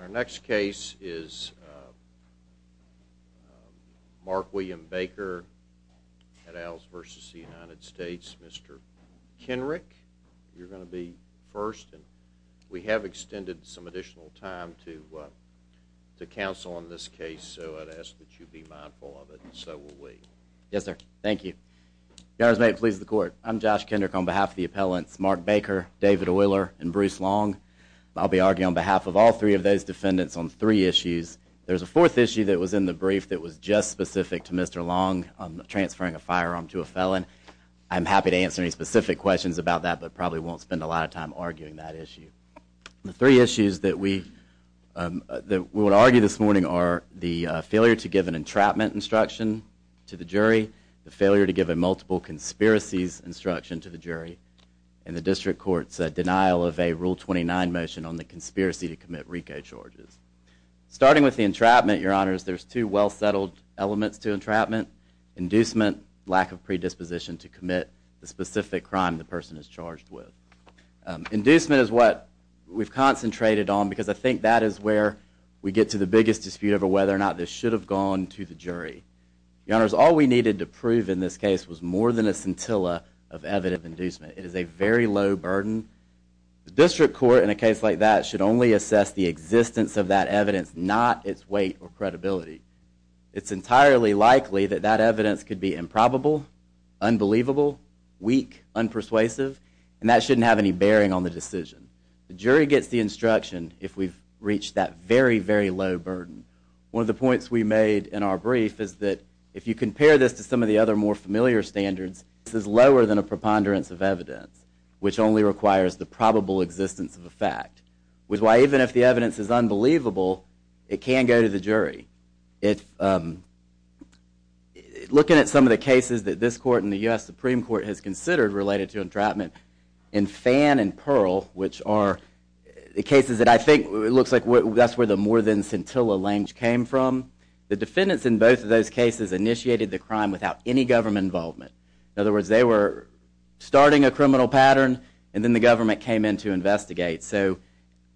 Our next case is Mark William Baker at Owls v. United States. Mr. Kenrick, you're going to be first. We have extended some additional time to counsel on this case, so I'd ask that you be mindful of it, and so will we. Yes, sir. Thank you. If you guys may, please, the Kenrick on behalf of the appellants Mark Baker, David Oiler, and Bruce Long. I'll be arguing on behalf of all three of those defendants on three issues. There's a fourth issue that was in the brief that was just specific to Mr. Long, transferring a firearm to a felon. I'm happy to answer any specific questions about that, but probably won't spend a lot of time arguing that issue. The three issues that we would argue this morning are the failure to give an entrapment instruction to the jury, the failure to give a multiple conspiracies instruction to the jury, and the district court's denial of a Rule 29 motion on the conspiracy to commit RICO charges. Starting with the entrapment, your honors, there's two well-settled elements to entrapment. Inducement, lack of predisposition to commit the specific crime the person is charged with. Inducement is what we've concentrated on because I think that is where we get to the biggest dispute over whether or not this should have gone to the jury. Your honors, all we needed to prove in this case was more than a scintilla of evident inducement. It is a very low burden. The district court in a case like that should only assess the existence of that evidence, not its weight or credibility. It's entirely likely that that evidence could be improbable, unbelievable, weak, unpersuasive, and that shouldn't have any bearing on the decision. The jury gets the One of the points we made in our brief is that if you compare this to some of the other more familiar standards, this is lower than a preponderance of evidence, which only requires the probable existence of a fact. Which is why even if the evidence is unbelievable, it can't go to the jury. Looking at some of the cases that this court and the U.S. Supreme Court has considered related to entrapment in Fan and Pearl, which are the cases that I think it looks like that's where the more than scintilla language came from, the defendants in both of those cases initiated the crime without any government involvement. In other words, they were starting a criminal pattern and then the government came in to investigate. So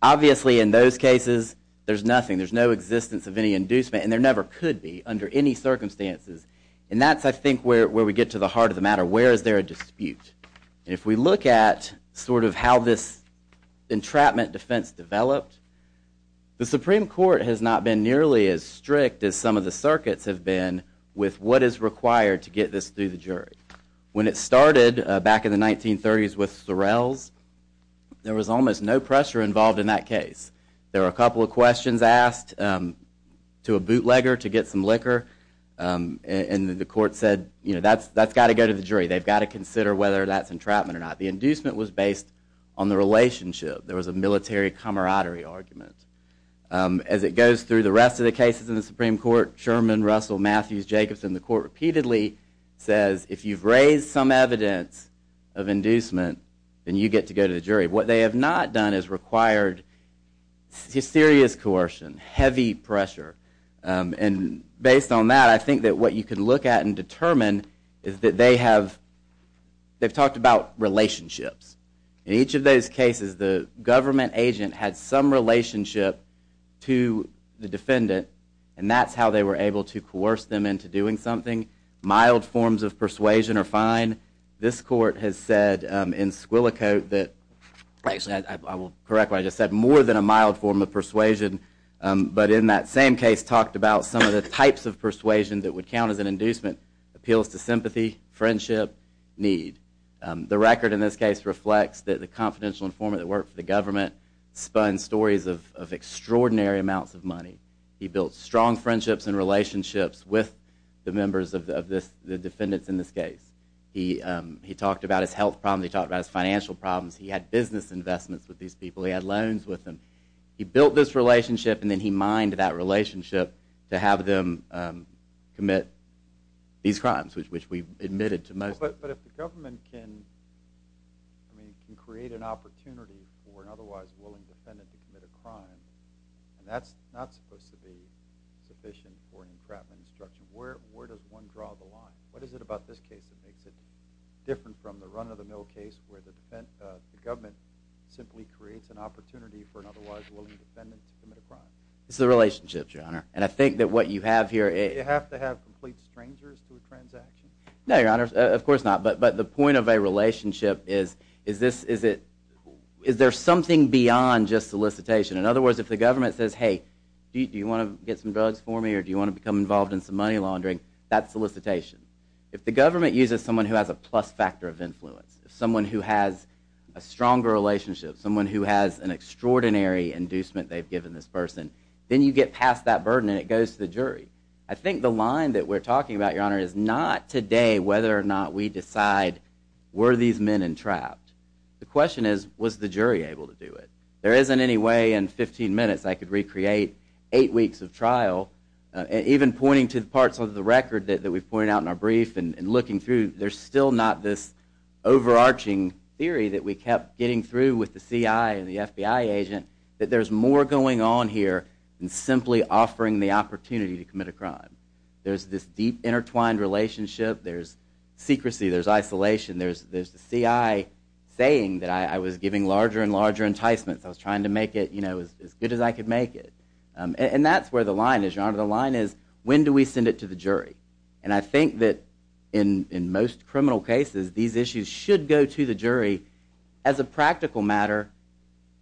obviously in those cases, there's nothing, there's no existence of any inducement, and there never could be under any circumstances. And that's I think where we get to the heart of the matter. Where is there a dispute? If we look at sort of how this entrapment defense developed, the Supreme Court has not been nearly as strict as some of the circuits have been with what is required to get this through the jury. When it started back in the 1930s with Sorrell's, there was almost no pressure involved in that case. There were a couple of questions asked to a bootlegger to get some liquor, and the court said, you know, that's that's got to go to the jury. They've got to consider whether that's entrapment or not. The relationship, there was a military camaraderie argument. As it goes through the rest of the cases in the Supreme Court, Sherman, Russell, Matthews, Jacobson, the court repeatedly says, if you've raised some evidence of inducement, then you get to go to the jury. What they have not done is required serious coercion, heavy pressure. And based on that, I think that what you can look at and determine is that they have, they've talked about relationships. In each of those cases, the government agent had some relationship to the defendant, and that's how they were able to coerce them into doing something. Mild forms of persuasion are fine. This court has said in Squillicote that, I will correct what I just said, more than a mild form of persuasion, but in that appeals to sympathy, friendship, need. The record in this case reflects that the confidential informant that worked for the government spun stories of extraordinary amounts of money. He built strong friendships and relationships with the members of the defendants in this case. He talked about his health problems. He talked about his financial problems. He had business investments with these people. He had loans with them. He built this relationship, and then he mined that these crimes, which we admitted to most. But if the government can, I mean, can create an opportunity for an otherwise willing defendant to commit a crime, and that's not supposed to be sufficient for an encrapment instruction, where does one draw the line? What is it about this case that makes it different from the run-of-the-mill case where the government simply creates an opportunity for an otherwise willing defendant to commit a crime? It's the relationship, Your Honor. And I think that what you have here is... Do you have to have complete strangers to a transaction? No, Your Honor, of course not. But the point of a relationship is, is there something beyond just solicitation? In other words, if the government says, hey, do you want to get some drugs for me, or do you want to become involved in some money laundering, that's solicitation. If the government uses someone who has a plus factor of influence, someone who has a stronger relationship, someone who has an extraordinary inducement they've given this person, then you get past that burden and it goes to the jury. I think the line that we're talking about, Your Honor, is not today whether or not we decide, were these men entrapped? The question is, was the jury able to do it? There isn't any way in 15 minutes I could recreate eight weeks of trial, even pointing to the parts of the record that we've pointed out in our brief and looking through, there's still not this overarching theory that we kept getting through with the CI and the FBI agent that there's more going on here than simply offering the opportunity to commit a crime. There's this deep intertwined relationship. There's secrecy. There's isolation. There's the CI saying that I was giving larger and larger enticements. I was trying to make it as good as I could make it. And that's where the line is, Your Honor. The line is, when do we send it to the jury? And I think that in most criminal cases, these issues should go to the jury as a practical matter.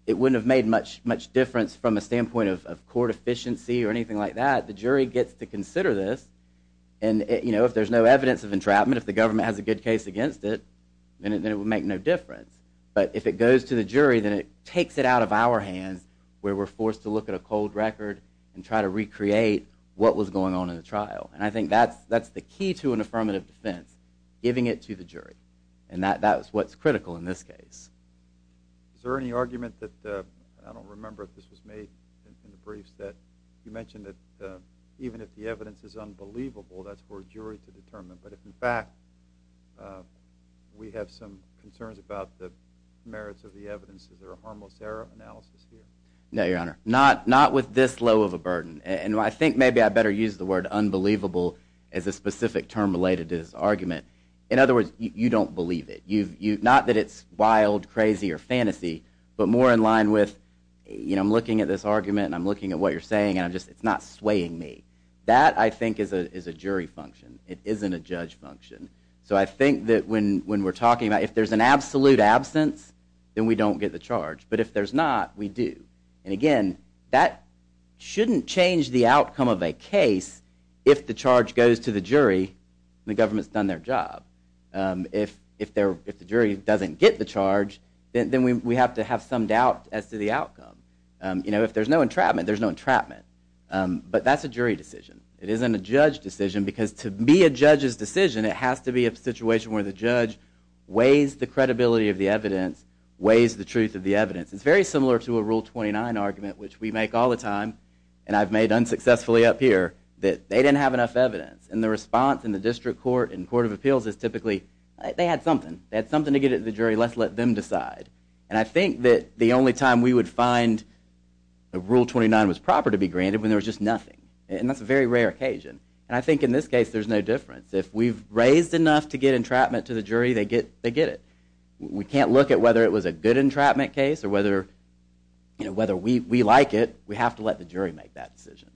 It wouldn't have made much difference from a standpoint of court efficiency or anything like that. The jury gets to consider this. And if there's no evidence of entrapment, if the government has a good case against it, then it would make no difference. But if it goes to the jury, then it takes it out of our hands where we're forced to look at a cold record and try to recreate what was going on in the trial. And I think that's the key to an affirmative defense, giving it to the jury. And that's what's critical in this case. Is there any argument that, I don't remember if this was made in the briefs, that you mentioned that even if the evidence is unbelievable, that's for a jury to determine. But if, in fact, we have some concerns about the merits of the evidence, is there a harmless error analysis here? No, Your Honor. Not with this low of a burden. And I think maybe I better use the word unbelievable as a specific term related to this argument. In other words, you don't believe it. Not that it's wild, crazy, or fantasy, but more in line with, I'm looking at this argument, and I'm looking at what you're saying, and it's not swaying me. That, I think, is a jury function. It isn't a judge function. So I think that when we're talking about, if there's an absolute absence, then we don't get the charge. But if there's not, we do. And again, that shouldn't change the outcome of a case if the charge goes to the jury, and the government's done their job. If the jury doesn't get the charge, then we have to have some doubt as to the outcome. You know, if there's no entrapment, there's no entrapment. But that's a jury decision. It isn't a judge decision, because to be a judge's decision, it has to be a situation where the judge weighs the credibility of the evidence, weighs the truth of the evidence. It's very similar to a Rule 29 argument, which we make all the time, and I've made unsuccessfully up here, that they didn't have enough evidence. And the response in the District Court and Court of Appeals is typically, they had something. They had something to get at the jury, let's let them decide. And I think that the only time we would find a Rule 29 was proper to be granted, when there was just nothing. And that's a very rare occasion. And I think in this case, there's no difference. If we've raised enough to get entrapment to the jury, they get it. We can't look at whether it was a good entrapment case, or whether we like it. We have to let the jury make that decision.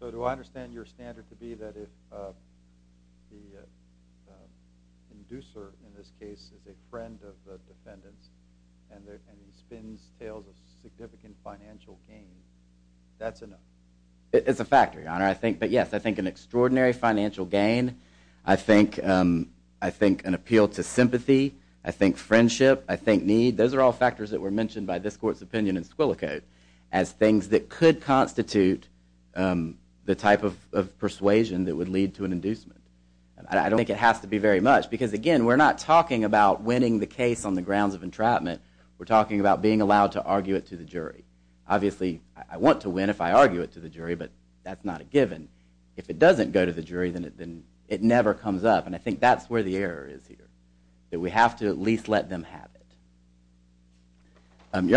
So do I understand your standard to be that if the inducer, in this case, is a friend of the defendants, and he spins tales of significant financial gain, that's enough? It's a factor, Your Honor. But yes, I think an extraordinary financial gain, I think an appeal to sympathy, I think friendship, I think need, those are all factors that were mentioned by this Court's opinion in Squillicote, as things that could constitute the type of persuasion that would lead to an inducement. I don't think it has to be very much. Because again, we're not talking about winning the case on the grounds of entrapment. We're talking about being allowed to argue it to the jury. Obviously, I want to win if I argue it to the jury, but that's not a given. If it doesn't go to the jury, then it never comes up. And I think that's where the error is here. That we have to at least let them have it. You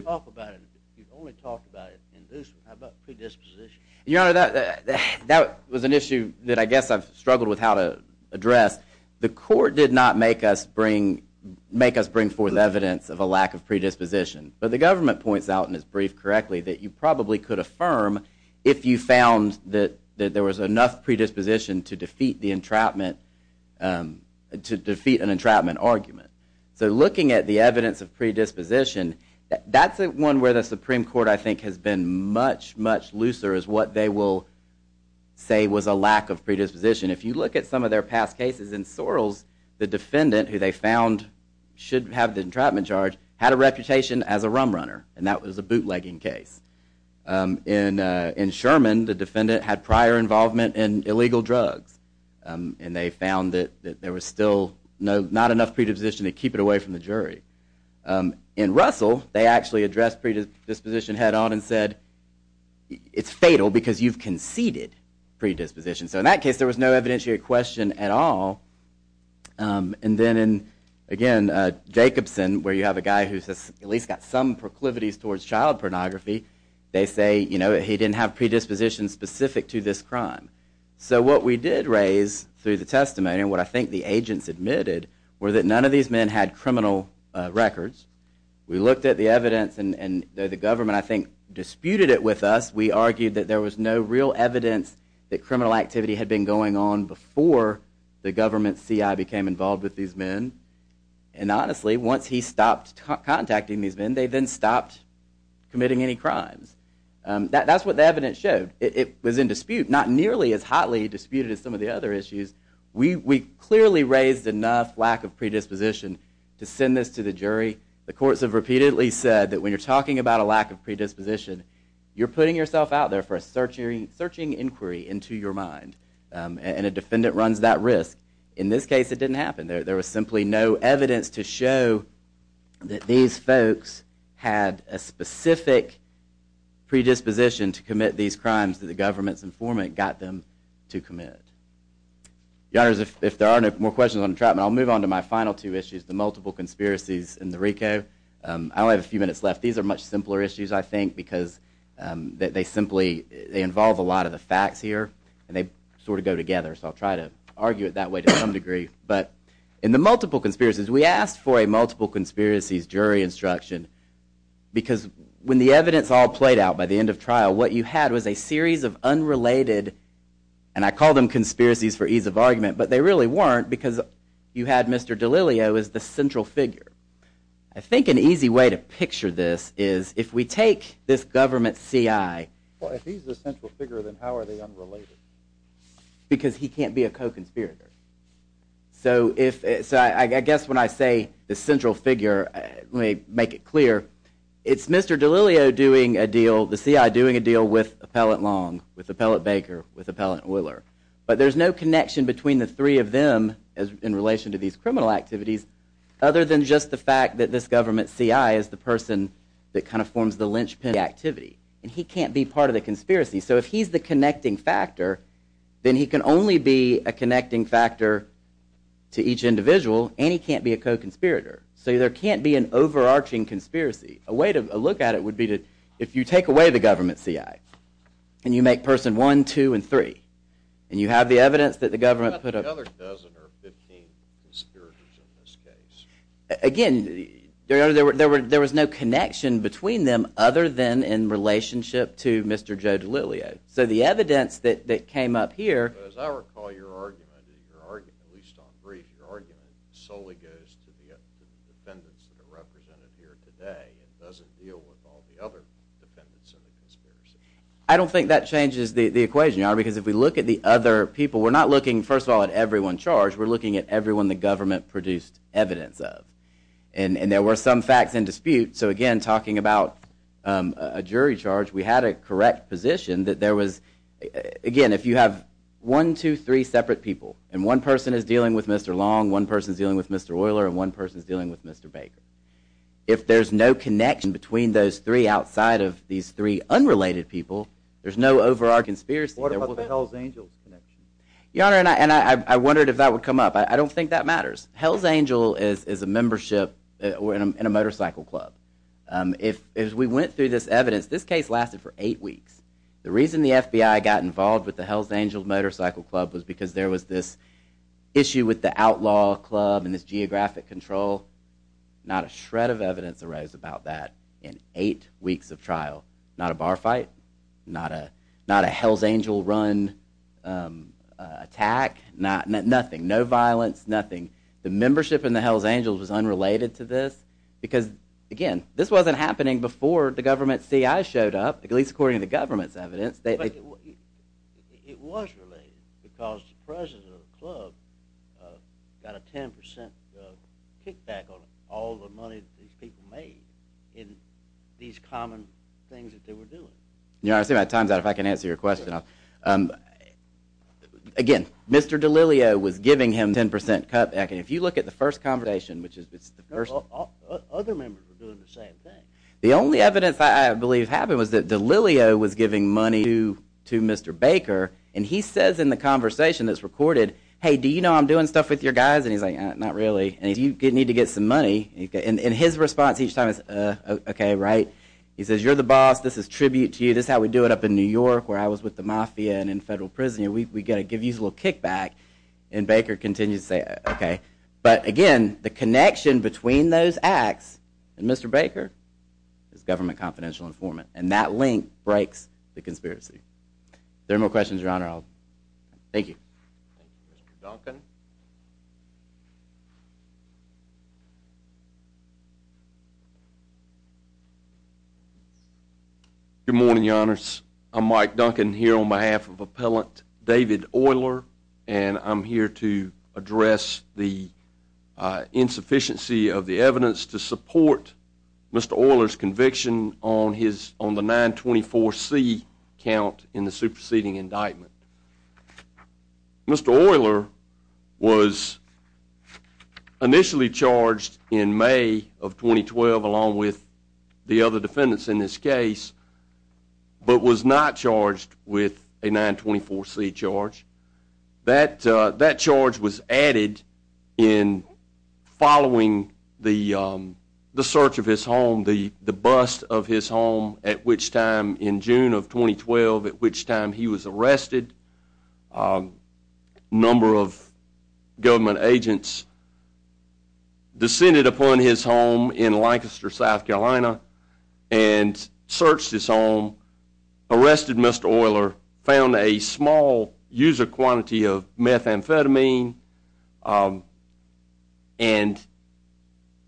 talk about it, you've only talked about it in this, how about predisposition? Your Honor, that was an issue that I guess I've struggled with how to address. The Court did not make us bring forth evidence of a lack of predisposition. But the government points out in its brief correctly that you probably could affirm if you found that there was enough predisposition to defeat an entrapment argument. So looking at the evidence of predisposition, that's one where the Supreme Court I think has been much, much looser as what they will say was a lack of predisposition. If you look at some of their past cases, in Sorrells, the defendant who they found should have the entrapment charge had a reputation as a rum case. In Sherman, the defendant had prior involvement in illegal drugs. And they found that there was still not enough predisposition to keep it away from the jury. In Russell, they actually addressed predisposition head on and said, it's fatal because you've conceded predisposition. So in that case, there was no evidentiary question at all. And then in, again, Jacobson, where you have a guy who's at least got some proclivities towards child pornography, they say, you know, he didn't have predisposition specific to this crime. So what we did raise through the testimony and what I think the agents admitted were that none of these men had criminal records. We looked at the evidence and the government I think disputed it with us. We argued that there was no real evidence that criminal activity had been going on before the government CI became involved with these men. And honestly, once he stopped contacting these men, they then stopped committing any crimes. That's what the evidence showed. It was in dispute, not nearly as hotly disputed as some of the other issues. We clearly raised enough lack of predisposition to send this to the jury. The courts have repeatedly said that when you're talking about a lack of predisposition, you're putting yourself out there for a searching inquiry into your mind. And a defendant runs that risk. In this case, it didn't happen. There was simply no evidence to show that these folks had a specific predisposition to commit these crimes that the government's informant got them to commit. Your honors, if there are no more questions on entrapment, I'll move on to my final two issues, the multiple conspiracies in the RICO. I only have a few minutes left. These are much simpler issues, I think, because they simply, they involve a lot of the facts here and they sort of go together. So I'll try to argue it that way to some degree. But in the multiple conspiracies, we asked for a multiple conspiracies jury instruction because when the evidence all played out by the end of trial, what you had was a series of unrelated, and I call them conspiracies for ease of argument, but they really weren't because you had Mr. Delilio as the central figure. I think an easy way to picture this is if we take this government C.I. Well, if he's the central figure, then how are they unrelated? Because he can't be a co-conspirator. So I guess when I say the central figure, let me make it clear, it's Mr. Delilio doing a deal, the C.I. doing a deal with Appellant Long, with Appellant Baker, with Appellant Oiler. But there's no connection between the three of them in relation to these criminal activities other than just the fact that this government C.I. is the person that kind of forms the linchpin of the activity, and he can't be part of the conspiracy. So if he's the connecting factor, then he can only be a connecting factor to each individual, and he can't be a co-conspirator. So there can't be an overarching conspiracy. A way to look at it would be if you take away the government C.I. and you make person one, two, and three, and you have the evidence that the government put up. What about the other dozen or 15 conspirators in this case? Again, there was no connection between them other than in relationship to Mr. Joe Delilio. So the evidence that came up here... As I recall your argument, at least on brief, your argument solely goes to the defendants that are represented here today and doesn't deal with all the other defendants in the conspiracy. I don't think that changes the equation, because if we look at the other people, we're not looking, first of all, at everyone charged. We're looking at everyone the government produced evidence of, and there were some facts in dispute. So again, talking about a jury charge, we had a correct position that there was... Again, if you have one, two, three separate people, and one person is dealing with Mr. Long, one person is dealing with Mr. Oiler, and one person is dealing with Mr. Baker. If there's no connection between those three outside of these three unrelated people, there's no overall conspiracy. What about the come up? I don't think that matters. Hells Angel is a membership in a motorcycle club. If we went through this evidence, this case lasted for eight weeks. The reason the FBI got involved with the Hells Angel Motorcycle Club was because there was this issue with the outlaw club and this geographic control. Not a shred of evidence arose about that in eight weeks of trial. Not a no violence, nothing. The membership in the Hells Angels was unrelated to this because, again, this wasn't happening before the government CI showed up, at least according to the government's evidence. It was related because the president of the club got a 10% kickback on all the money that these people made in these common things that they were doing. You know, I see my time's up. Again, Mr. Delilio was giving him 10% cutback. If you look at the first conversation, the only evidence I believe happened was that Delilio was giving money to Mr. Baker, and he says in the conversation that's recorded, hey, do you know I'm doing stuff with your guys? And he's like, not really. And you need to get some money. And his response each time is, OK, right. He says, you're the boss. This is tribute to you. This is how we do it up in New York where I was with the mafia and in federal prison. We've got to give you a little kickback. And Baker continues to say, OK. But again, the connection between those acts and Mr. Baker is government confidential informant. And that link breaks the conspiracy. There are no questions, Your Honor. Thank you. Good morning, Your Honors. I'm Mike Duncan here on behalf of Appellant David Euler, and I'm here to address the insufficiency of the evidence to support Mr. Euler's conviction on the 924C count in the superseding indictment. Mr. Euler was initially charged in May of 2012 along with the other defendants in this case, but was not charged with a 924C charge. That charge was added in following the search of his home, the bust of his home, at which time in June of 2012, at which time he was arrested, a number of government agents descended upon his home in Lancaster, South Carolina, and searched his home, arrested Mr. Euler, found a small user quantity of methamphetamine, and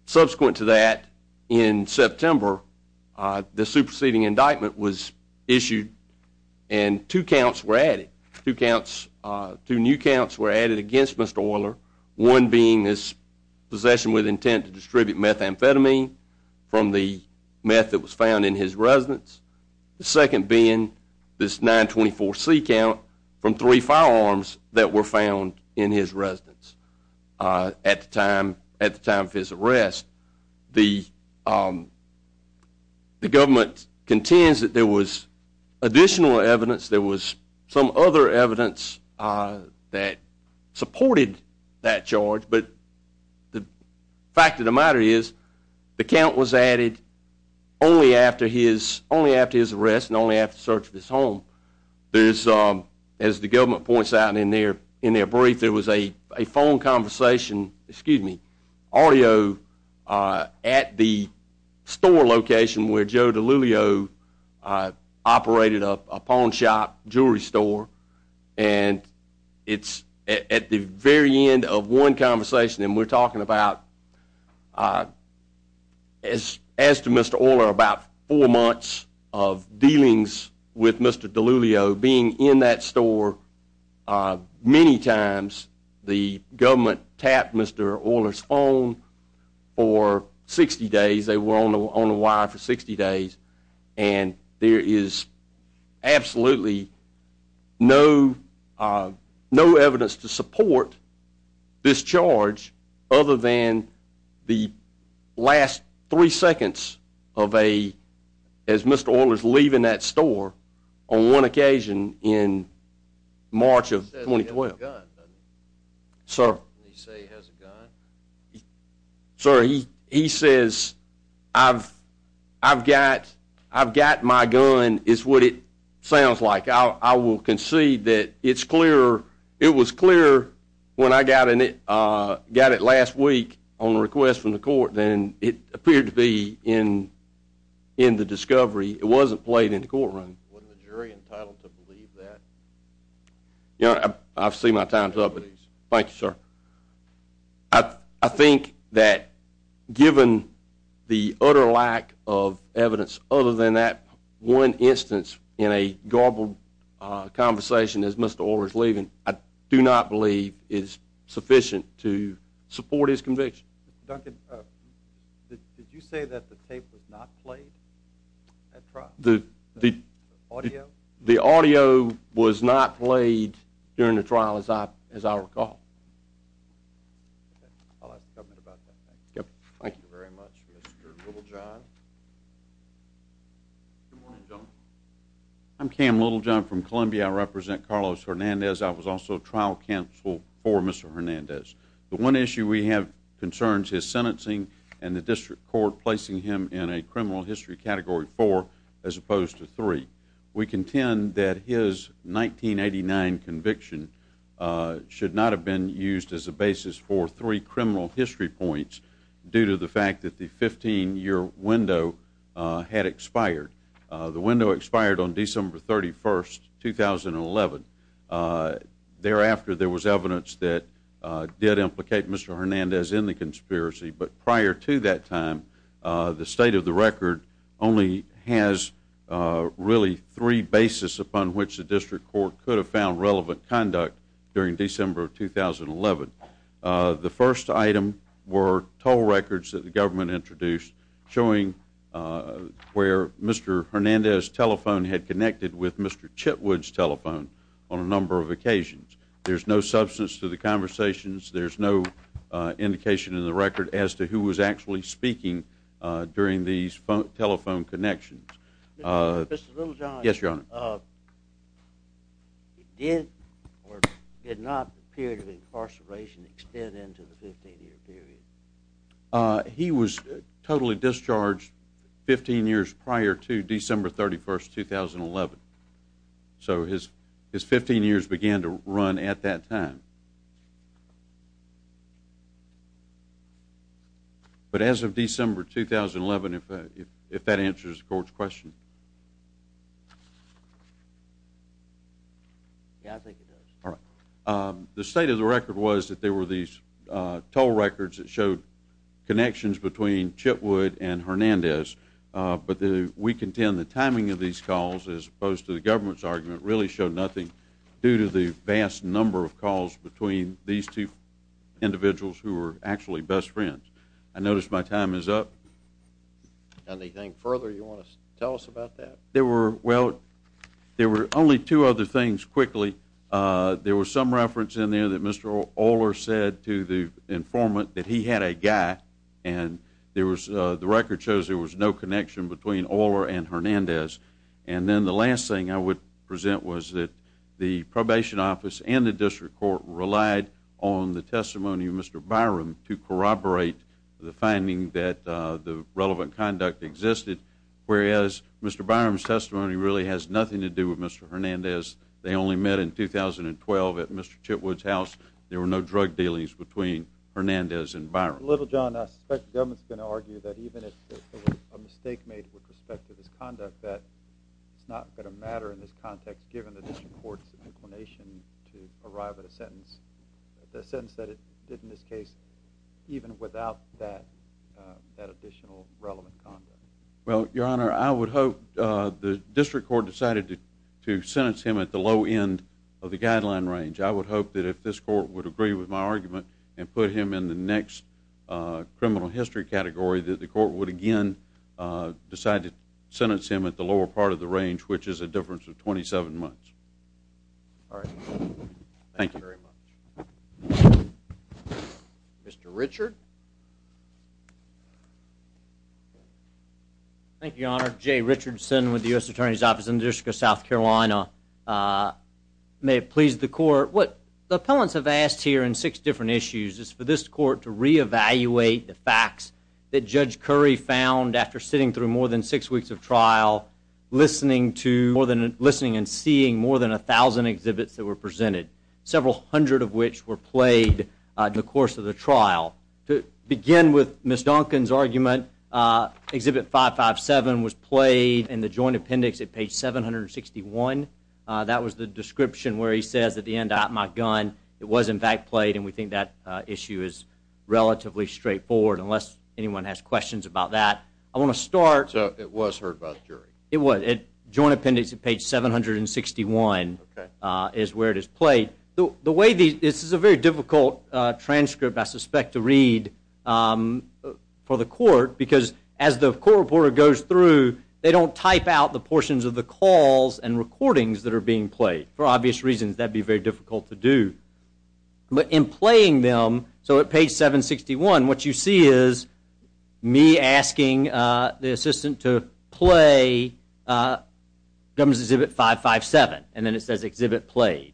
subsequent to that, in September, the superseding indictment was issued, and two counts were added. Two new counts were added against Mr. Euler, one being his possession with intent to distribute methamphetamine from the meth that was found in his residence, the second being this 924C count from three firearms that were found in his residence at the time of his arrest. The government contends that there was additional evidence, there was some other evidence that supported that charge, but the fact of the matter is the count was added only after his arrest and only after the search of his home. As the government points out in their brief, there was a phone conversation, excuse me, audio at the store location where Joe DiLulio operated a pawn shop, jewelry store, and it's at the very end of one conversation, and we're talking about, as to Mr. Euler, about four months of dealings with Mr. DiLulio being in that store, many times the government tapped Mr. Euler's phone for 60 days, they were on the wire for 60 days, and there is absolutely no evidence to support this charge other than the last three seconds of a, as Mr. Euler's leaving that store on one occasion in March of 2012. Sir? Sir, he says I've got my gun is what it sounds like. I will concede that it's clearer, it was clearer when I got it last week on request from the court than it appeared to be in the discovery. It wasn't played in the courtroom. Wasn't the jury entitled to believe that? You know, I've seen my times up with these. Thank you, sir. I think that given the utter lack of evidence other than that one instance in a garbled conversation as Mr. Euler is leaving, I do not believe is sufficient to support his conviction. Duncan, did you say that the tape was not played at trial? The audio was not played during the trial as I recall. I'll ask the government about that. Thank you very much, Mr. Littlejohn. Good morning, gentlemen. I'm Cam Littlejohn from Columbia. I represent Carlos Hernandez. I was also trial counsel for Mr. Hernandez. The one issue we have concerns his sentencing and the district court placing him in a criminal history category four as opposed to three. We contend that his 1989 conviction should not have been used as a basis for three criminal history points due to the fact that the 15-year window had expired. The window expired on December 31, 2011. Thereafter, there was evidence that did implicate Mr. Hernandez in the conspiracy, but prior to that time, the state of the record only has really three basis upon which the district court could have found relevant conduct during December 2011. The first item were toll records that the government introduced showing where Mr. Hernandez' telephone had connected with Mr. Chitwood's telephone on a number of occasions. There's no substance to the conversations. There's no indication in the record as to who was actually speaking during these telephone connections. Yes, Your Honor. Did or did not the period of incarceration extend into the 15-year period? He was totally discharged 15 years prior to December 31, 2011. So his 15 years began to run at that time. But as of December 2011, if that answers the court's question. Yeah, I think it does. All right. The state of the record was that there were these toll records that showed connections between Chitwood and Hernandez, but we contend the timing of these calls as opposed to the government's argument really showed nothing due to the vast number of calls between these two individuals who were actually best friends. I notice my time is up. Anything further you want to tell us about that? There were only two other things quickly. There was some reference in there that Mr. Oler said to the informant that he had a guy, and the record shows there was no connection between Oler and Hernandez. And then the last thing I would present was that the probation office and the district court relied on the testimony of Mr. Byram to corroborate the finding that the relevant conduct existed, whereas Mr. Byram's testimony really has nothing to do with Mr. Hernandez. They only met in 2012 at Mr. Chitwood's house. There were no drug dealings between Hernandez and Byram. I suspect the government's going to argue that even if there was a mistake made with respect to this conduct, that it's not going to matter in this context, given the district court's inclination to arrive at a sentence, a sentence that it did in this case, even without that additional relevant conduct. Well, Your Honor, I would hope the district court decided to sentence him at the low end of the guideline range. I would hope that if this court would agree with my argument and put him in the next criminal history category, that the court would again decide to sentence him at the lower part of the range, which is a difference of 27 months. All right. Thank you very much. Mr. Richard? Thank you, Your Honor. Jay Richardson with the U.S. Attorney's Office in the District of South Carolina. May it please the court, what the appellants have asked here in six issues is for this court to reevaluate the facts that Judge Curry found after sitting through more than six weeks of trial, listening and seeing more than 1,000 exhibits that were presented, several hundred of which were played in the course of the trial. To begin with Ms. Duncan's argument, exhibit 557 was played in the joint appendix at page 761. That was the description where he says at the end, I got my gun. It was in fact played, and we think that issue is relatively straightforward, unless anyone has questions about that. I want to start. So it was heard by the jury? It was. Joint appendix at page 761 is where it is played. This is a very difficult transcript, I suspect, to read for the court, because as the court reporter goes through, they don't type out the portions of the calls and recordings that are being played. For obvious reasons, that would be very difficult to do. But in playing them, so at page 761, what you see is me asking the assistant to play government exhibit 557, and then it says exhibit played.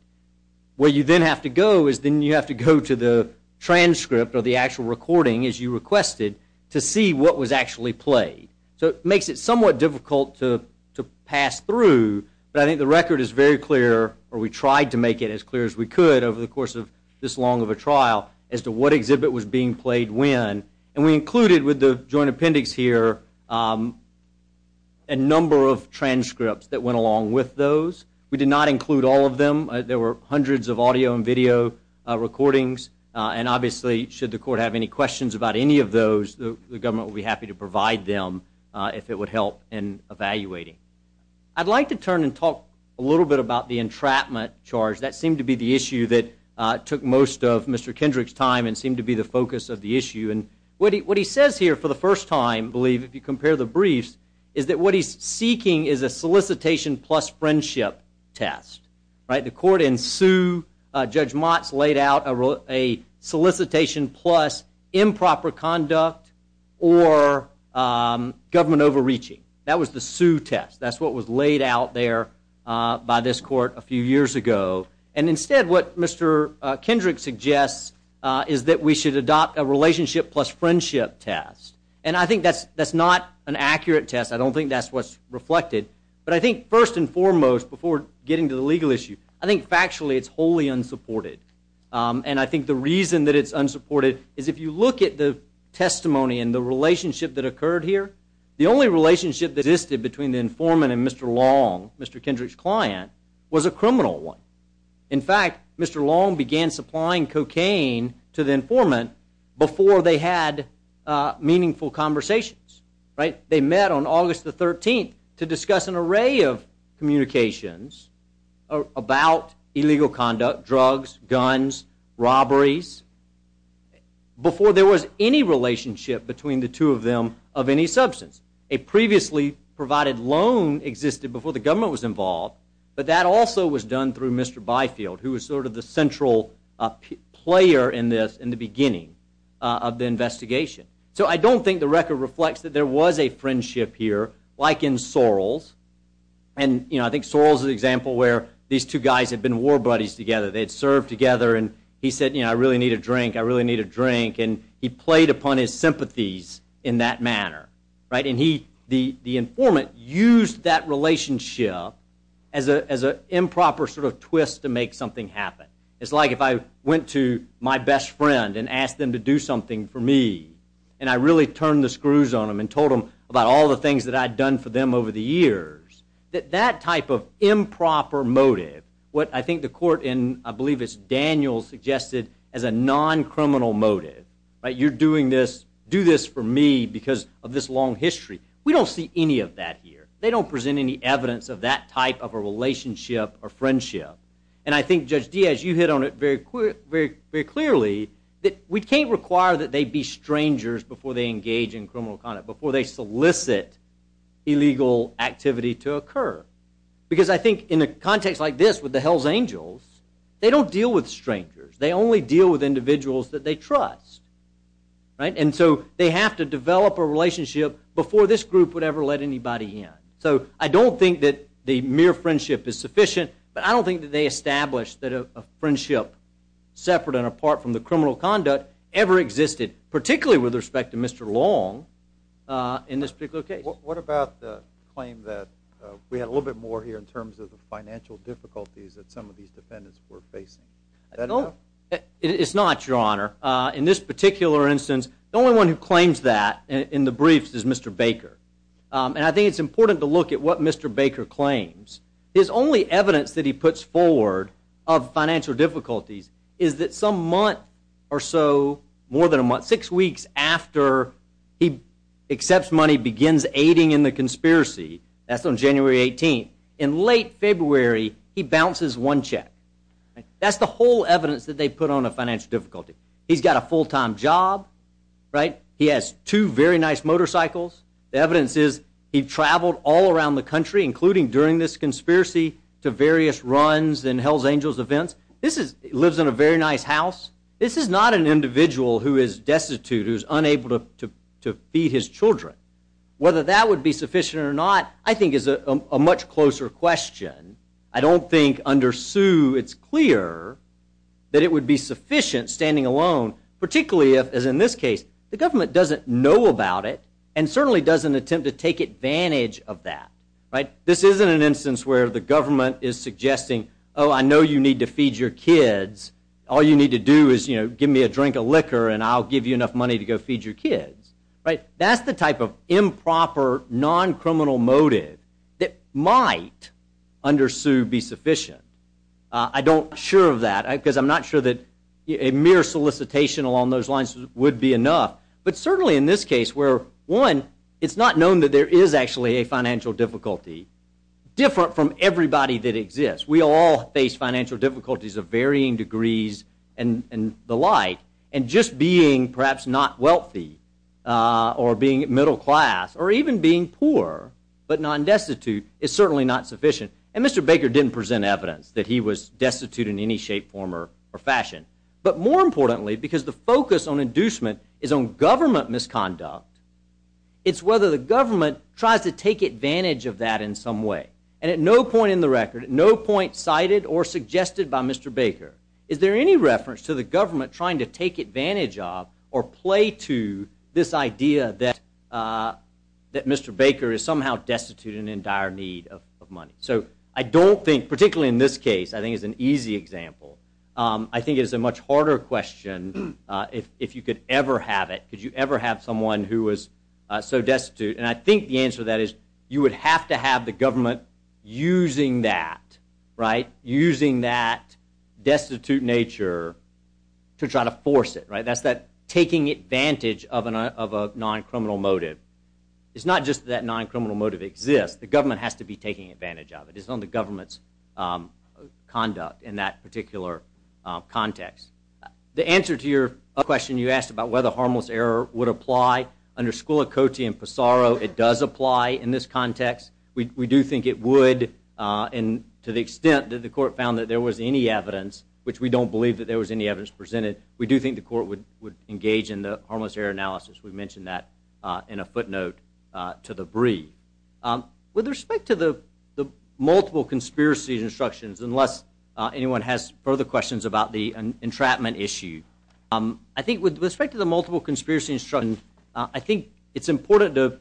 Where you then have to go is then you have to go to the transcript or the actual recording as you requested to see what was actually played. So it makes it somewhat difficult to pass through, but I think the record is very clear, or we tried to make it as clear as we could over the course of this long of a trial, as to what exhibit was being played when. And we included with the joint appendix here a number of transcripts that went along with those. We did not include all of them. There were hundreds of audio and video recordings, and obviously should the court have any questions about any of those, the government would be evaluating. I'd like to turn and talk a little bit about the entrapment charge. That seemed to be the issue that took most of Mr. Kendrick's time and seemed to be the focus of the issue. And what he says here for the first time, I believe, if you compare the briefs, is that what he's seeking is a solicitation plus friendship test. The court ensued, Judge Motz laid out a solicitation plus improper conduct or government overreaching. That was the sue test. That's what was laid out there by this court a few years ago. And instead what Mr. Kendrick suggests is that we should adopt a relationship plus friendship test. And I think that's not an accurate test. I don't think that's what's reflected. But I think first and foremost, before getting to the legal issue, I think factually it's wholly unsupported. And I think the reason that it's unsupported is if you look at the testimony and the relationship that occurred here, the only relationship that existed between the informant and Mr. Long, Mr. Kendrick's client, was a criminal one. In fact, Mr. Long began supplying cocaine to the informant before they had meaningful conversations. They met on August the 13th to discuss an array of communications about illegal conduct, drugs, guns, robberies, before there was any relationship between the substance. A previously provided loan existed before the government was involved, but that also was done through Mr. Byfield, who was sort of the central player in this in the beginning of the investigation. So I don't think the record reflects that there was a friendship here like in Sorrell's. And, you know, I think Sorrell's is an example where these two guys had been war buddies together. They had served together and he said, you know, I really need a drink, I really Right? And he, the informant, used that relationship as a improper sort of twist to make something happen. It's like if I went to my best friend and asked them to do something for me and I really turned the screws on them and told them about all the things that I'd done for them over the years, that that type of improper motive, what I think the court in, I believe it's Daniel, suggested as a non-criminal motive, right? You're doing this, do this for me because of this long history. We don't see any of that here. They don't present any evidence of that type of a relationship or friendship. And I think Judge Diaz, you hit on it very clearly that we can't require that they be strangers before they engage in criminal conduct, before they solicit illegal activity to They only deal with individuals that they trust, right? And so they have to develop a relationship before this group would ever let anybody in. So I don't think that the mere friendship is sufficient, but I don't think that they established that a friendship separate and apart from the criminal conduct ever existed, particularly with respect to Mr. Long in this particular case. What about the claim that we had a little bit more here in terms of the financial difficulties that some of these defendants were facing? It's not, your honor. In this particular instance, the only one who claims that in the briefs is Mr. Baker. And I think it's important to look at what Mr. Baker claims. His only evidence that he puts forward of financial difficulties is that some month or so, more than a month, six weeks after he accepts money, begins aiding in the one check. That's the whole evidence that they put on a financial difficulty. He's got a full-time job, right? He has two very nice motorcycles. The evidence is he traveled all around the country, including during this conspiracy, to various runs and Hells Angels events. He lives in a very nice house. This is not an individual who is destitute, who's unable to feed his children. Whether that would be sufficient or not, I think, is a much closer question. I don't think under Sue it's clear that it would be sufficient standing alone, particularly if, as in this case, the government doesn't know about it and certainly doesn't attempt to take advantage of that. This isn't an instance where the government is suggesting, oh, I know you need to feed your kids. All you need to do is give me a drink of liquor and I'll give you enough money to go feed your kids. That's the type of improper, non-criminal motive that might, under Sue, be sufficient. I'm not sure of that because I'm not sure that a mere solicitation along those lines would be enough. But certainly in this case where, one, it's not known that there is actually a financial difficulty different from everybody that exists. We all face financial difficulties of varying or being middle class or even being poor but non-destitute is certainly not sufficient. And Mr. Baker didn't present evidence that he was destitute in any shape, form, or fashion. But more importantly, because the focus on inducement is on government misconduct, it's whether the government tries to take advantage of that in some way. And at no point in the record, at no point cited or suggested by Mr. Baker is there any reference to the government trying to advantage of or play to this idea that Mr. Baker is somehow destitute and in dire need of money. So I don't think, particularly in this case, I think it's an easy example. I think it's a much harder question if you could ever have it. Could you ever have someone who was so destitute? And I think the answer to that is you would have to have the government using that, right? Using that right? That's that taking advantage of a non-criminal motive. It's not just that non-criminal motive exists. The government has to be taking advantage of it. It's on the government's conduct in that particular context. The answer to your question you asked about whether harmless error would apply under Scullicotti and Pissarro, it does apply in this context. We do think it would and to the extent that the court found that there was any evidence, which we don't believe that was any evidence presented, we do think the court would engage in the harmless error analysis. We mentioned that in a footnote to the brief. With respect to the multiple conspiracy instructions, unless anyone has further questions about the entrapment issue, I think with respect to the multiple conspiracy instruction, I think it's important to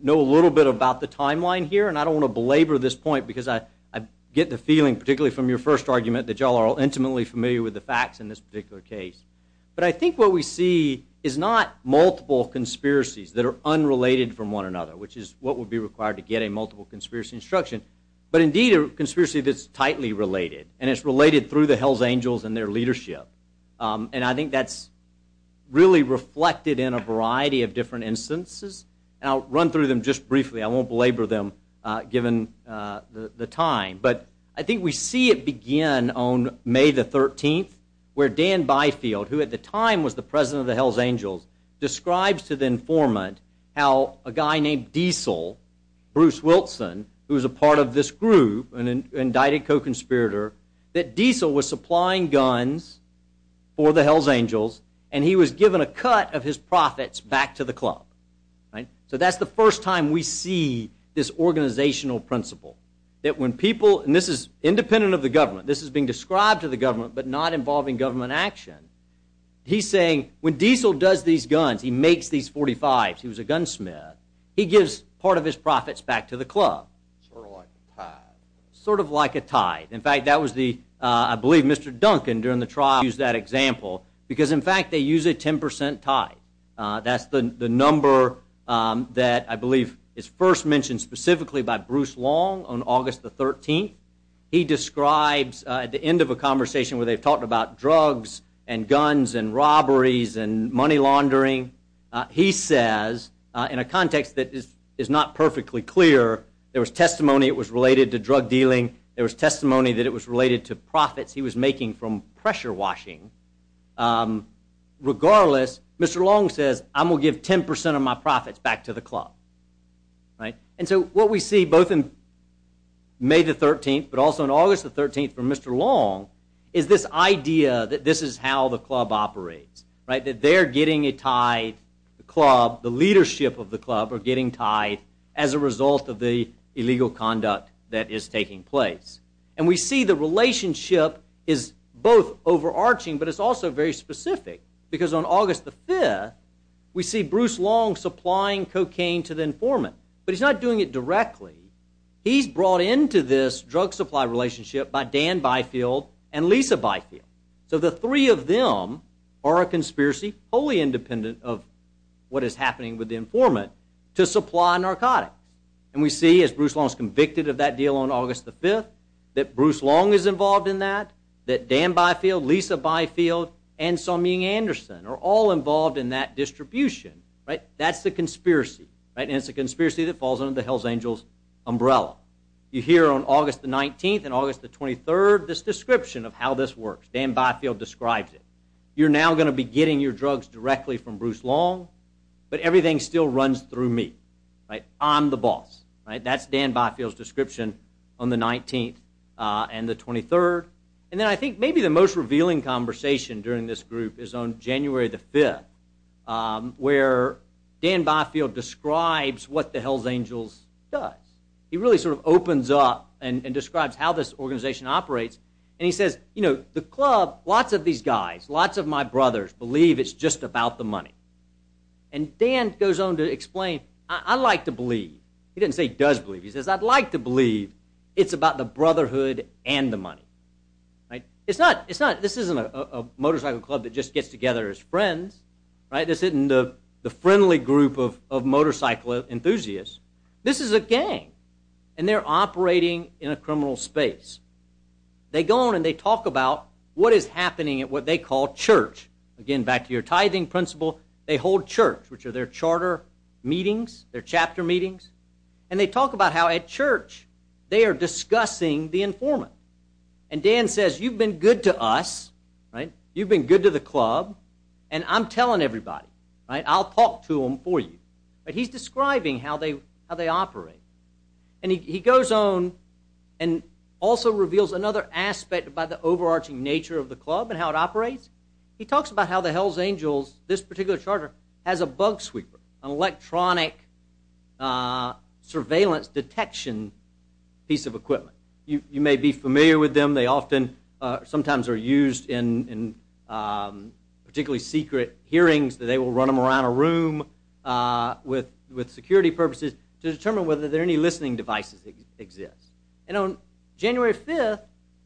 know a little bit about the timeline here. And I don't want to belabor this point because I get the feeling, particularly from your first argument, that y'all are all intimately familiar with the facts in this particular case. But I think what we see is not multiple conspiracies that are unrelated from one another, which is what would be required to get a multiple conspiracy instruction, but indeed a conspiracy that's tightly related. And it's related through the hell's angels and their leadership. And I think that's really reflected in a variety of different instances. And I'll run through them briefly. I won't belabor them given the time. But I think we see it begin on May the 13th, where Dan Byfield, who at the time was the president of the hell's angels, describes to the informant how a guy named Diesel, Bruce Wilson, who was a part of this group, an indicted co-conspirator, that Diesel was supplying guns for the hell's angels and he was given a cut of his profits back to the club. So that's the first time we see this organizational principle. That when people, and this is independent of the government, this is being described to the government but not involving government action, he's saying when Diesel does these guns, he makes these 45s, he was a gunsmith, he gives part of his profits back to the club. Sort of like a tithe. In fact, that was the, I believe Mr. Duncan during the trial used that example, because in fact they use a 10% tithe. That's the number that I believe is first mentioned specifically by Bruce Long on August the 13th. He describes at the end of a conversation where they've talked about drugs and guns and robberies and money laundering, he says in a context that is not perfectly clear, there was testimony it was related to drug dealing, there was testimony that it was related to profits he was making from pressure washing. Regardless, Mr. Long says I'm going to give 10% of my profits back to the club. And so what we see both in May the 13th but also in August the 13th from Mr. Long is this idea that this is how the club operates. That they're getting a tithe, the club, the leadership of the club are getting tithe as a result of the illegal conduct that is is both overarching but it's also very specific because on August the 5th we see Bruce Long supplying cocaine to the informant. But he's not doing it directly, he's brought into this drug supply relationship by Dan Byfield and Lisa Byfield. So the three of them are a conspiracy wholly independent of what is happening with the informant to supply narcotics. And we see as Bruce Long is convicted of that deal on August the 5th, that Bruce Long is involved in that, that Dan Byfield, Lisa Byfield, and Song Ming Anderson are all involved in that distribution, right? That's the conspiracy, right? And it's a conspiracy that falls under the Hells Angels umbrella. You hear on August the 19th and August the 23rd this description of how this works. Dan Byfield describes it. You're now going to be getting your drugs directly from Bruce Long but everything still runs through me, right? I'm the boss, right? That's Dan Byfield's description on the 19th and the 23rd. And then I think maybe the most revealing conversation during this group is on January the 5th where Dan Byfield describes what the Hells Angels does. He really sort of opens up and describes how this organization operates and he says, you know, the club, lots of these guys, lots of my brothers believe it's just about the money. And Dan goes on to explain, I like to believe. He didn't say does believe. He says, I'd like to believe it's about the brotherhood and the money, right? It's not, it's not, this isn't a motorcycle club that just gets together as friends, right? This isn't the friendly group of motorcycle enthusiasts. This is a gang and they're operating in a criminal space. They go on and they talk about what is happening at what they call church. Again, back to your tithing principle, they hold church which are their charter meetings, their chapter meetings, and they talk about how at church they are discussing the informant. And Dan says, you've been good to us, right? You've been good to the club and I'm telling everybody, right? I'll talk to He's describing how they operate. And he goes on and also reveals another aspect about the overarching nature of the club and how it operates. He talks about how the Hells Angels, this particular charter, has a bug sweeper, an electronic surveillance detection piece of equipment. You may be familiar with them. They often, sometimes are used in particularly secret hearings that they will run them around a room with security purposes to determine whether there are any listening devices that exist. And on January 5th,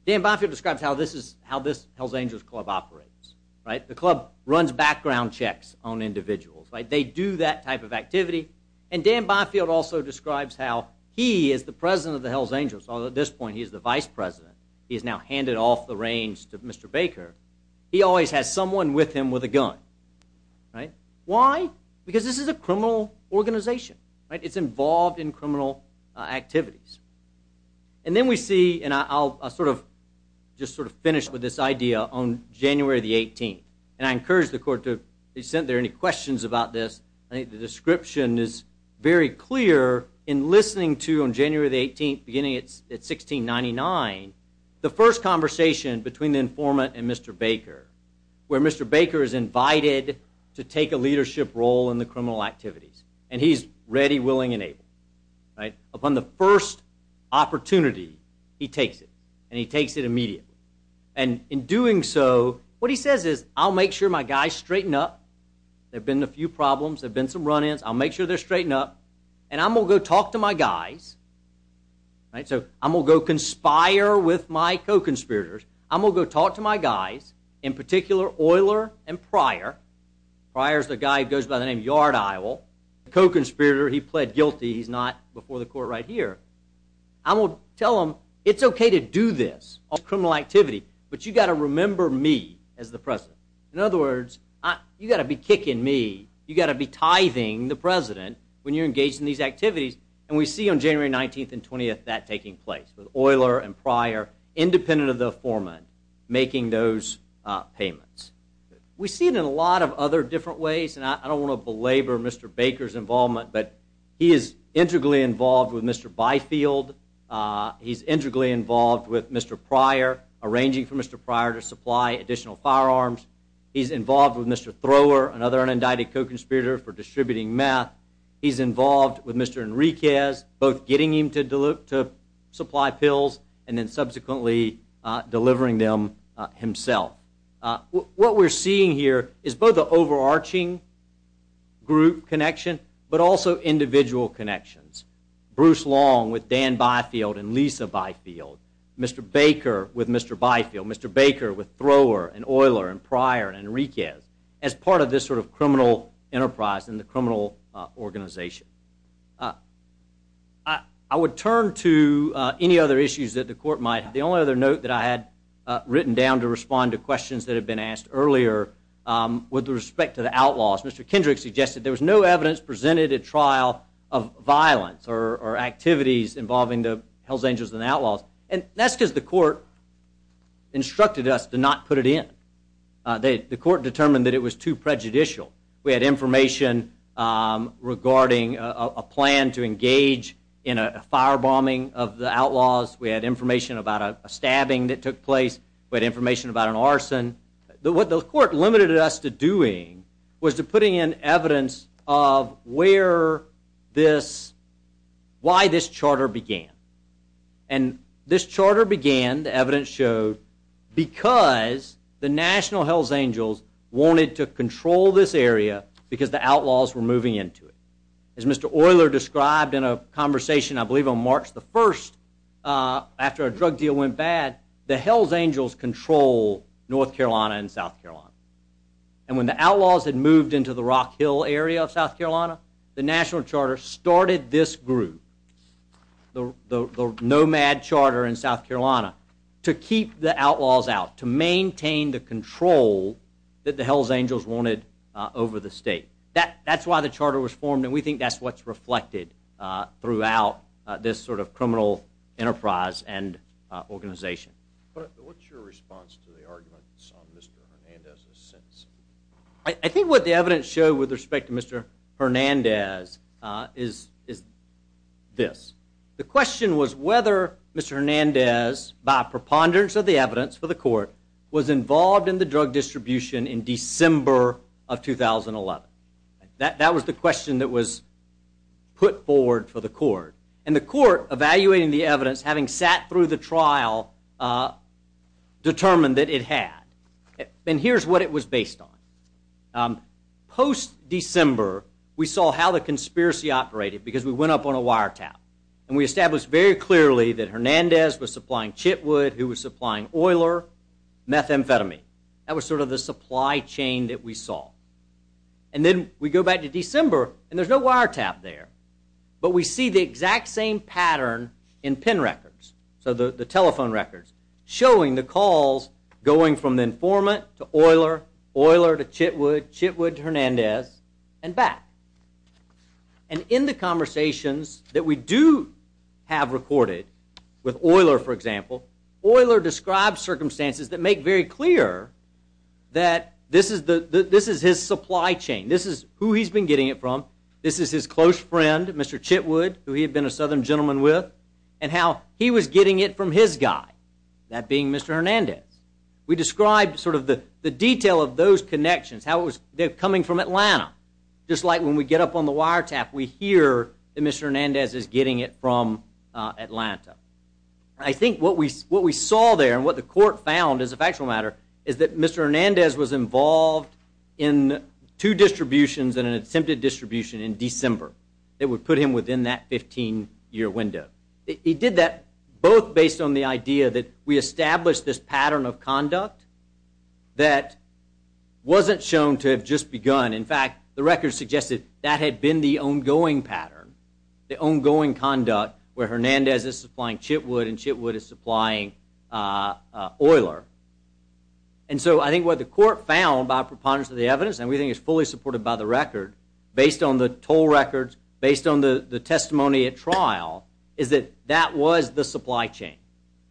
Dan Boffield describes how this is, how this Hells Angels club operates, right? The club runs background checks on individuals, right? They do that type of activity. And Dan Boffield also describes how he is the president of the Hells Angels, although at this point he is the vice president. He is now handed off the Mr. Baker. He always has someone with him with a gun, right? Why? Because this is a criminal organization, right? It's involved in criminal activities. And then we see, and I'll sort of just sort of finish with this idea on January the 18th. And I encourage the court to send there any questions about this. I think the description is very clear in listening to on January the 1699, the first conversation between the informant and Mr. Baker, where Mr. Baker is invited to take a leadership role in the criminal activities. And he's ready, willing, and able, right? Upon the first opportunity, he takes it. And he takes it immediately. And in doing so, what he says is, I'll make sure my guys straighten up. There have been a few problems. There have been some run-ins. I'll make sure they're straightened up. And I'm going to go talk to my guys, right? So I'm going to go conspire with my co-conspirators. I'm going to go talk to my guys, in particular, Euler and Pryor. Pryor is the guy who goes by the name of Yard Eile. The co-conspirator, he pled guilty. He's not before the court right here. I will tell them, it's OK to do this, all criminal activity. But you've got to remember me as the president. In other words, you've got to be kicking me. You've got to be tithing the president when you're engaged in these activities. And we see on January 19th and 20th that taking place, with Euler and Pryor, independent of the foreman, making those payments. We see it in a lot of other different ways. And I don't want to belabor Mr. Baker's involvement. But he is integrally involved with Mr. Byfield. He's integrally involved with Mr. Pryor, arranging for Mr. Pryor to supply additional firearms. He's involved with Mr. Thrower, another unindicted co-conspirator for distributing meth. He's involved with Mr. Enriquez, both getting him to supply pills and then subsequently delivering them himself. What we're seeing here is both an overarching group connection, but also individual connections. Bruce Long with Dan Byfield and Lisa Byfield. Mr. Baker with Mr. Byfield. Mr. Baker with Thrower and Euler and Pryor and Enriquez as part of this sort of criminal enterprise and the criminal organization. I would turn to any other issues that the court might have. The only other note that I had written down to respond to questions that have been asked earlier with respect to the outlaws. Mr. Kendrick suggested there was no evidence presented at trial of violence or activities involving the Hells Angels and outlaws. And that's because the court instructed us to not it in. The court determined that it was too prejudicial. We had information regarding a plan to engage in a firebombing of the outlaws. We had information about a stabbing that took place. We had information about an arson. What the court limited us to doing was to putting in evidence of where this, why this charter began. And this charter began, the evidence showed, because the National Hells Angels wanted to control this area because the outlaws were moving into it. As Mr. Euler described in a conversation I believe on March the 1st after a drug deal went bad, the Hells Angels control North Carolina and South Carolina. And when the outlaws had moved into the the National Charter started this group, the Nomad Charter in South Carolina, to keep the outlaws out, to maintain the control that the Hells Angels wanted over the state. That's why the charter was formed and we think that's what's reflected throughout this sort of criminal enterprise and organization. But what's your response to the arguments on Mr. Hernandez's I think what the evidence showed with respect to Mr. Hernandez is this. The question was whether Mr. Hernandez, by preponderance of the evidence for the court, was involved in the drug distribution in December of 2011. That was the question that was put forward for the court. And the court, evaluating the evidence, having sat through the trial, determined that it had. And here's what it was based on. Post-December we saw how the conspiracy operated because we went up on a wiretap and we established very clearly that Hernandez was supplying Chitwood, who was supplying Euler, methamphetamine. That was sort of the supply chain that we saw. And then we go back to December and there's no wiretap there. But we see the exact same pattern in PIN records, so the telephone records, showing the calls going from the informant to Euler, Euler to Chitwood, Chitwood to Hernandez and back. And in the conversations that we do have recorded with Euler, for example, Euler described circumstances that make very clear that this is his supply chain. This is who he's been getting it from. This is his close friend, Mr. Chitwood, who he had been a southern guy, that being Mr. Hernandez. We described sort of the detail of those connections, how it was coming from Atlanta. Just like when we get up on the wiretap, we hear that Mr. Hernandez is getting it from Atlanta. I think what we saw there and what the court found as a factual matter is that Mr. Hernandez was involved in two distributions and an attempted distribution in December that would put him within that 15-year window. He did that both based on the idea that we established this pattern of conduct that wasn't shown to have just begun. In fact, the record suggested that had been the ongoing pattern, the ongoing conduct where Hernandez is supplying Chitwood and Chitwood is supplying Euler. And so I think what the court found by preponderance of the evidence, and we think it's fully supported by the record, based on the toll records, based on the testimony at trial, is that that was the supply chain.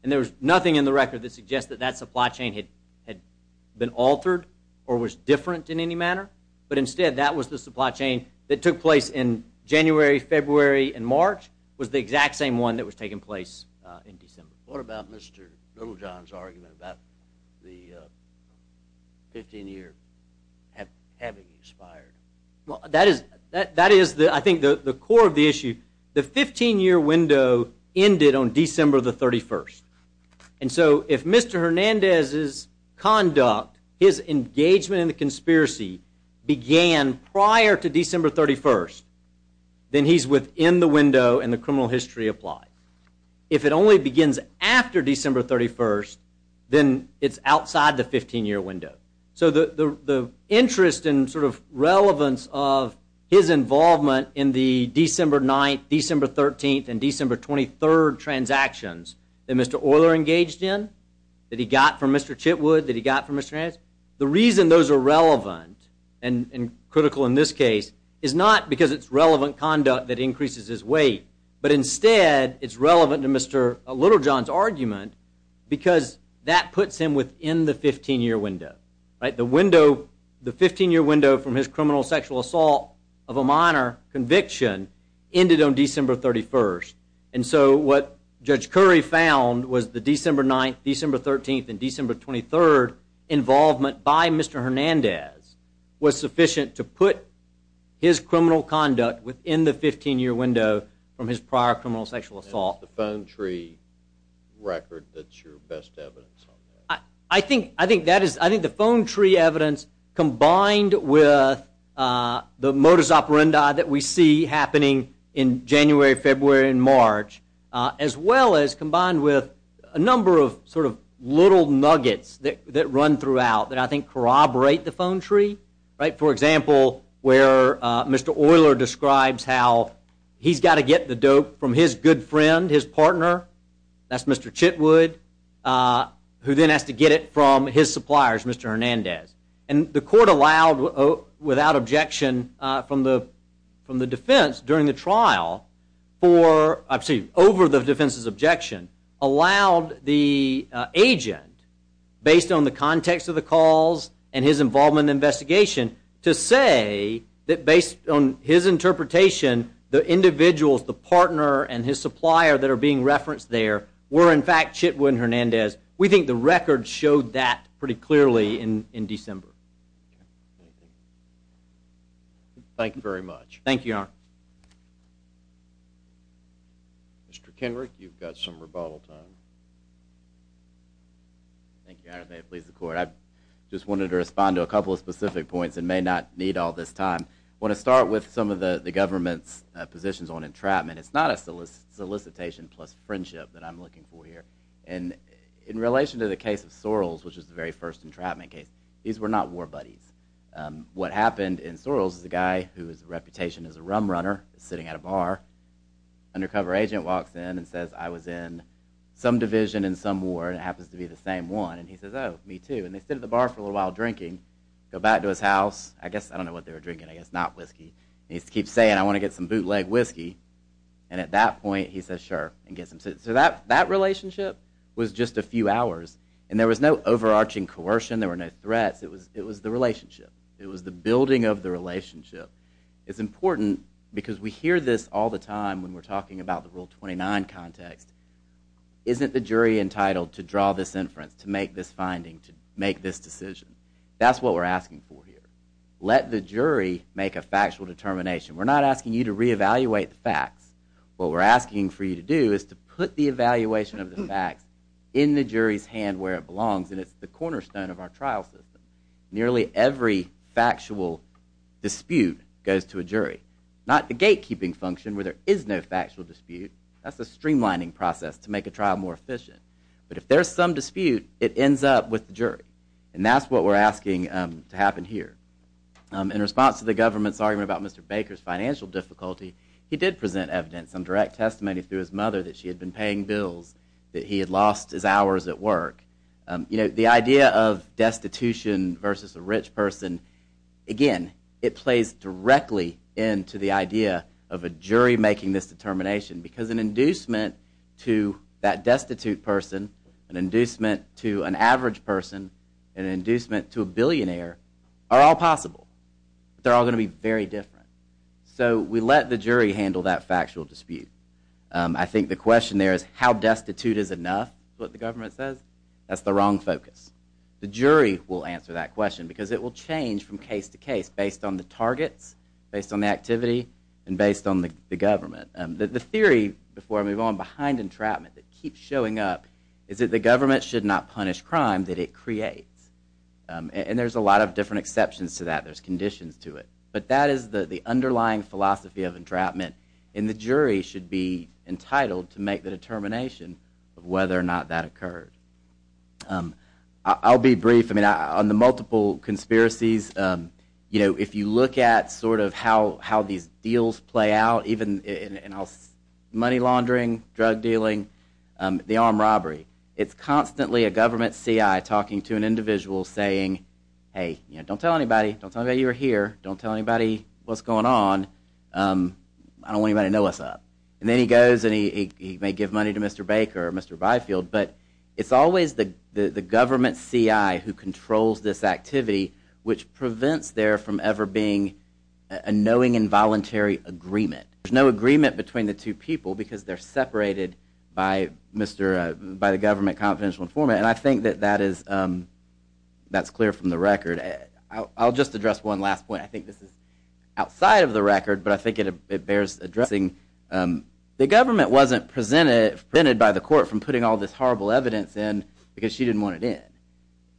And there was nothing in the record that suggests that that supply chain had been altered or was different in any manner, but instead that was the supply chain that took place in January, February, and March, was the exact same one that was taking place in December. What about Mr. Littlejohn's argument about the 15-year having expired? Well, that is I think the core of the issue. The 15-year window ended on December the 31st. And so if Mr. Hernandez's conduct, his engagement in the conspiracy, began prior to December 31st, then he's within the window and the criminal history applied. If it only begins after December 31st, then it's outside the 15-year window. So the interest and sort of relevance of his involvement in the December 9th, December 13th, and December 23rd transactions that Mr. Euler engaged in, that he got from Mr. Chitwood, that he got from Mr. Hernandez, the reason those are relevant and critical in this case is not because it's relevant conduct that increases his weight, but instead it's relevant to Mr. Littlejohn's argument because that puts him within the 15-year window. The window, the 15-year window from his criminal sexual assault of a minor conviction ended on December 31st. And so what Judge Curry found was the December 9th, December 13th, and December 23rd involvement by Mr. Hernandez was sufficient to put his criminal conduct within the 15-year window from his prior criminal sexual assault. That's the phone tree record that's your best evidence on that? I think that is, I think the phone tree evidence combined with the modus operandi that we see happening in January, February, and March, as well as combined with a number of sort of little nuggets that run throughout that I think corroborate the phone tree. For example, where Mr. Euler describes how he's got to get the dope from his good friend, his partner, that's Mr. Chitwood, who then has to get it from his suppliers, Mr. Hernandez. And the court allowed, without objection from the defense during the trial for, I'm sorry, over the defense's objection, allowed the agent, based on the context of the calls and his involvement in the investigation, to say that based on his interpretation, the individuals, the partner and his supplier that are being referenced there were in fact Chitwood and Hernandez, we think the record showed that pretty clearly in December. Thank you very much. Thank you, Your Honor. Mr. Kenrick, you've got some rebuttal time. Thank you, Your Honor, and may it please the court. I just wanted to respond to a couple of specific points and may not need all this time. I want to start with some of the government's positions on entrapment. It's not a solicitation plus friendship that I'm looking for here. In relation to the case of Sorrells, which was the very first entrapment case, these were not war buddies. What happened in Sorrells is a guy whose reputation as a rum runner is sitting at a bar. Undercover agent walks in and says, I was in some division in some war, and it happens to be the same one. And he says, oh, me too. And they sit at the bar for a little while drinking, go back to his house. I guess, I don't know what they were drinking, I guess not whiskey. And he keeps saying, I want to get some bootleg whiskey. And at that point, he says, so that relationship was just a few hours. And there was no overarching coercion, there were no threats. It was the relationship. It was the building of the relationship. It's important because we hear this all the time when we're talking about the Rule 29 context. Isn't the jury entitled to draw this inference, to make this finding, to make this decision? That's what we're asking for here. Let the jury make a factual determination. We're not for you to do is to put the evaluation of the facts in the jury's hand where it belongs, and it's the cornerstone of our trial system. Nearly every factual dispute goes to a jury. Not the gatekeeping function, where there is no factual dispute. That's a streamlining process to make a trial more efficient. But if there's some dispute, it ends up with the jury. And that's what we're asking to happen here. In response to the government's argument about Mr. Baker's difficulty, he did present evidence, some direct testimony through his mother that she had been paying bills, that he had lost his hours at work. The idea of destitution versus a rich person, again, it plays directly into the idea of a jury making this determination. Because an inducement to that destitute person, an inducement to an average person, an inducement to a billionaire, are all possible. But they're all going to be very different. So we let the jury handle that factual dispute. I think the question there is, how destitute is enough? That's what the government says. That's the wrong focus. The jury will answer that question, because it will change from case to case based on the targets, based on the activity, and based on the government. The theory, before I move on, behind entrapment that keeps showing up is that the government should not punish crime that it creates. And there's a lot of different exceptions to that. There's conditions to it. But that is the underlying philosophy of entrapment. And the jury should be entitled to make the determination of whether or not that occurred. I'll be brief. On the multiple conspiracies, if you look at how these deals play out, even in money laundering, drug dealing, the armed robbery, it's constantly a government CI talking to an individual saying, hey, don't tell anybody. Don't tell anybody you were here. Don't tell anybody what's going on. I don't want anybody to know what's up. And then he goes and he may give money to Mr. Baker or Mr. Byfield. But it's always the government CI who controls this activity, which prevents there from ever being a knowing involuntary agreement. There's no agreement between the two people, because they're separated by the government confidential informant. And I think that that's clear from the record. I'll just address one last point. I think this is outside of the record, but I think it bears addressing. The government wasn't prevented by the court from putting all this horrible evidence in, because she didn't want it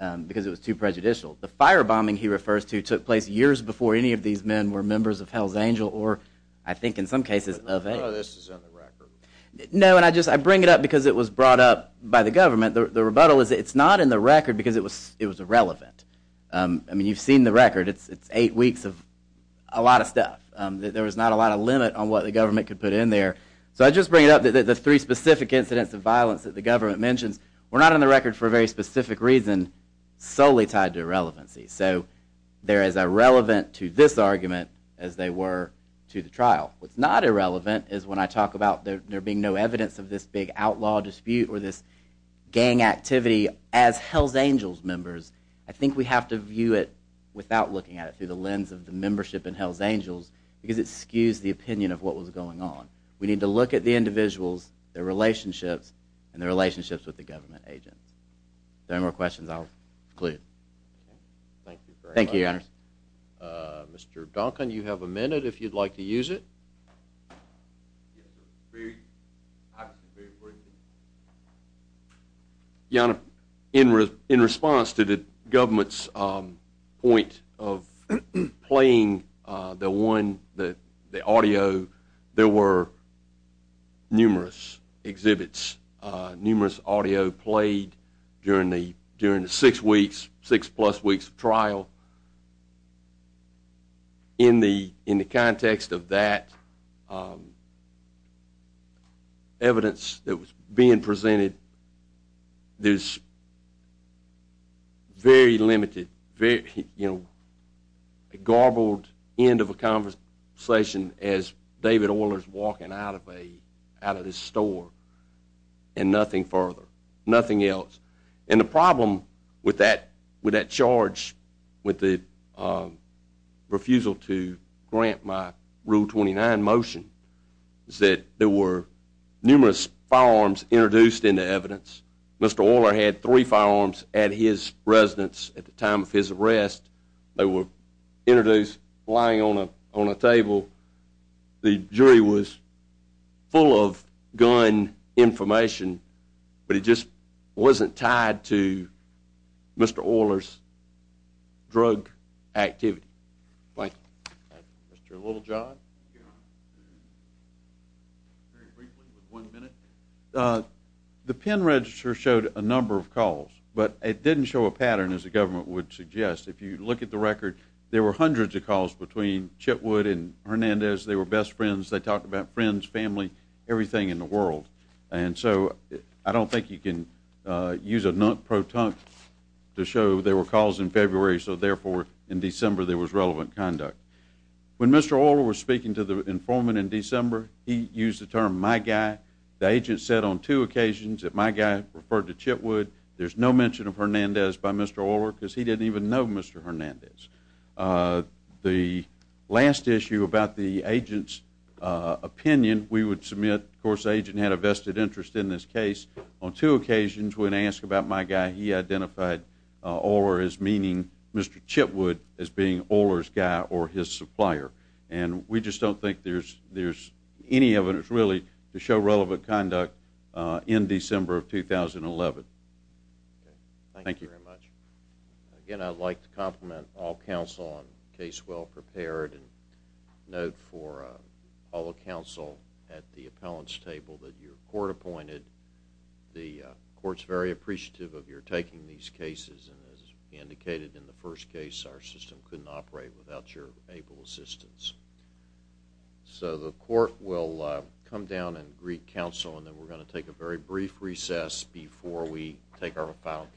in, because it was too prejudicial. The firebombing he refers to took place years before any of these men were members of Hell's No, and I bring it up because it was brought up by the government. The rebuttal is it's not in the record because it was irrelevant. I mean, you've seen the record. It's eight weeks of a lot of stuff. There was not a lot of limit on what the government could put in there. So I just bring it up that the three specific incidents of violence that the government mentions were not on the record for a very specific reason solely tied to irrelevancy. So they're as irrelevant to this argument as they were to the trial. What's not irrelevant is when I talk about there being no evidence of this big outlaw dispute or this gang activity as Hell's Angels members, I think we have to view it without looking at it through the lens of the membership in Hell's Angels, because it skews the opinion of what was going on. We need to look at the individuals, their relationships, and their relationships with the government agents. If there are no more questions, I'll conclude. Thank you, Your Honor. Mr. Duncan, you have a minute if you'd like to use it. Yes, sir. Very briefly. Your Honor, in response to the government's point of playing the audio, there were numerous exhibits, numerous audio played during the six plus weeks of trial. In the context of that evidence that was being presented, there's very limited, you know, a garbled end of a conversation as David Orler's walking out of his store, and nothing further, nothing else. And the problem with that charge with the refusal to grant my Rule 29 motion is that there were numerous firearms introduced into evidence. Mr. Orler had three firearms at his residence at the time of his arrest. They were introduced lying on a table. The jury was full of gun information, but it just wasn't tied to Mr. Orler's drug activity. Mr. Littlejohn. Very briefly with one minute. The pen register showed a number of calls, but it didn't show a pattern as the government would suggest. If you look at the record, there were hundreds of calls between Chitwood and Hernandez. They were best friends. They I don't think you can use a non-proton to show there were calls in February, so therefore, in December, there was relevant conduct. When Mr. Orler was speaking to the informant in December, he used the term my guy. The agent said on two occasions that my guy referred to Chitwood. There's no mention of Hernandez by Mr. Orler because he didn't even know Mr. Hernandez. The last issue about the agent's opinion, we would submit, of course, the agent had a vested interest in this case. On two occasions, when asked about my guy, he identified Orler as meaning Mr. Chitwood as being Orler's guy or his supplier. We just don't think there's any evidence really to show relevant conduct in December of 2011. Thank you very much. Again, I'd like to compliment all counsel on case well prepared and note for all counsel at the appellants table that your court appointed. The court's very appreciative of your taking these cases and as indicated in the first case, our system couldn't operate without your able assistance. So the court will come down and greet counsel and then we're going to take a very brief recess before we take our final case.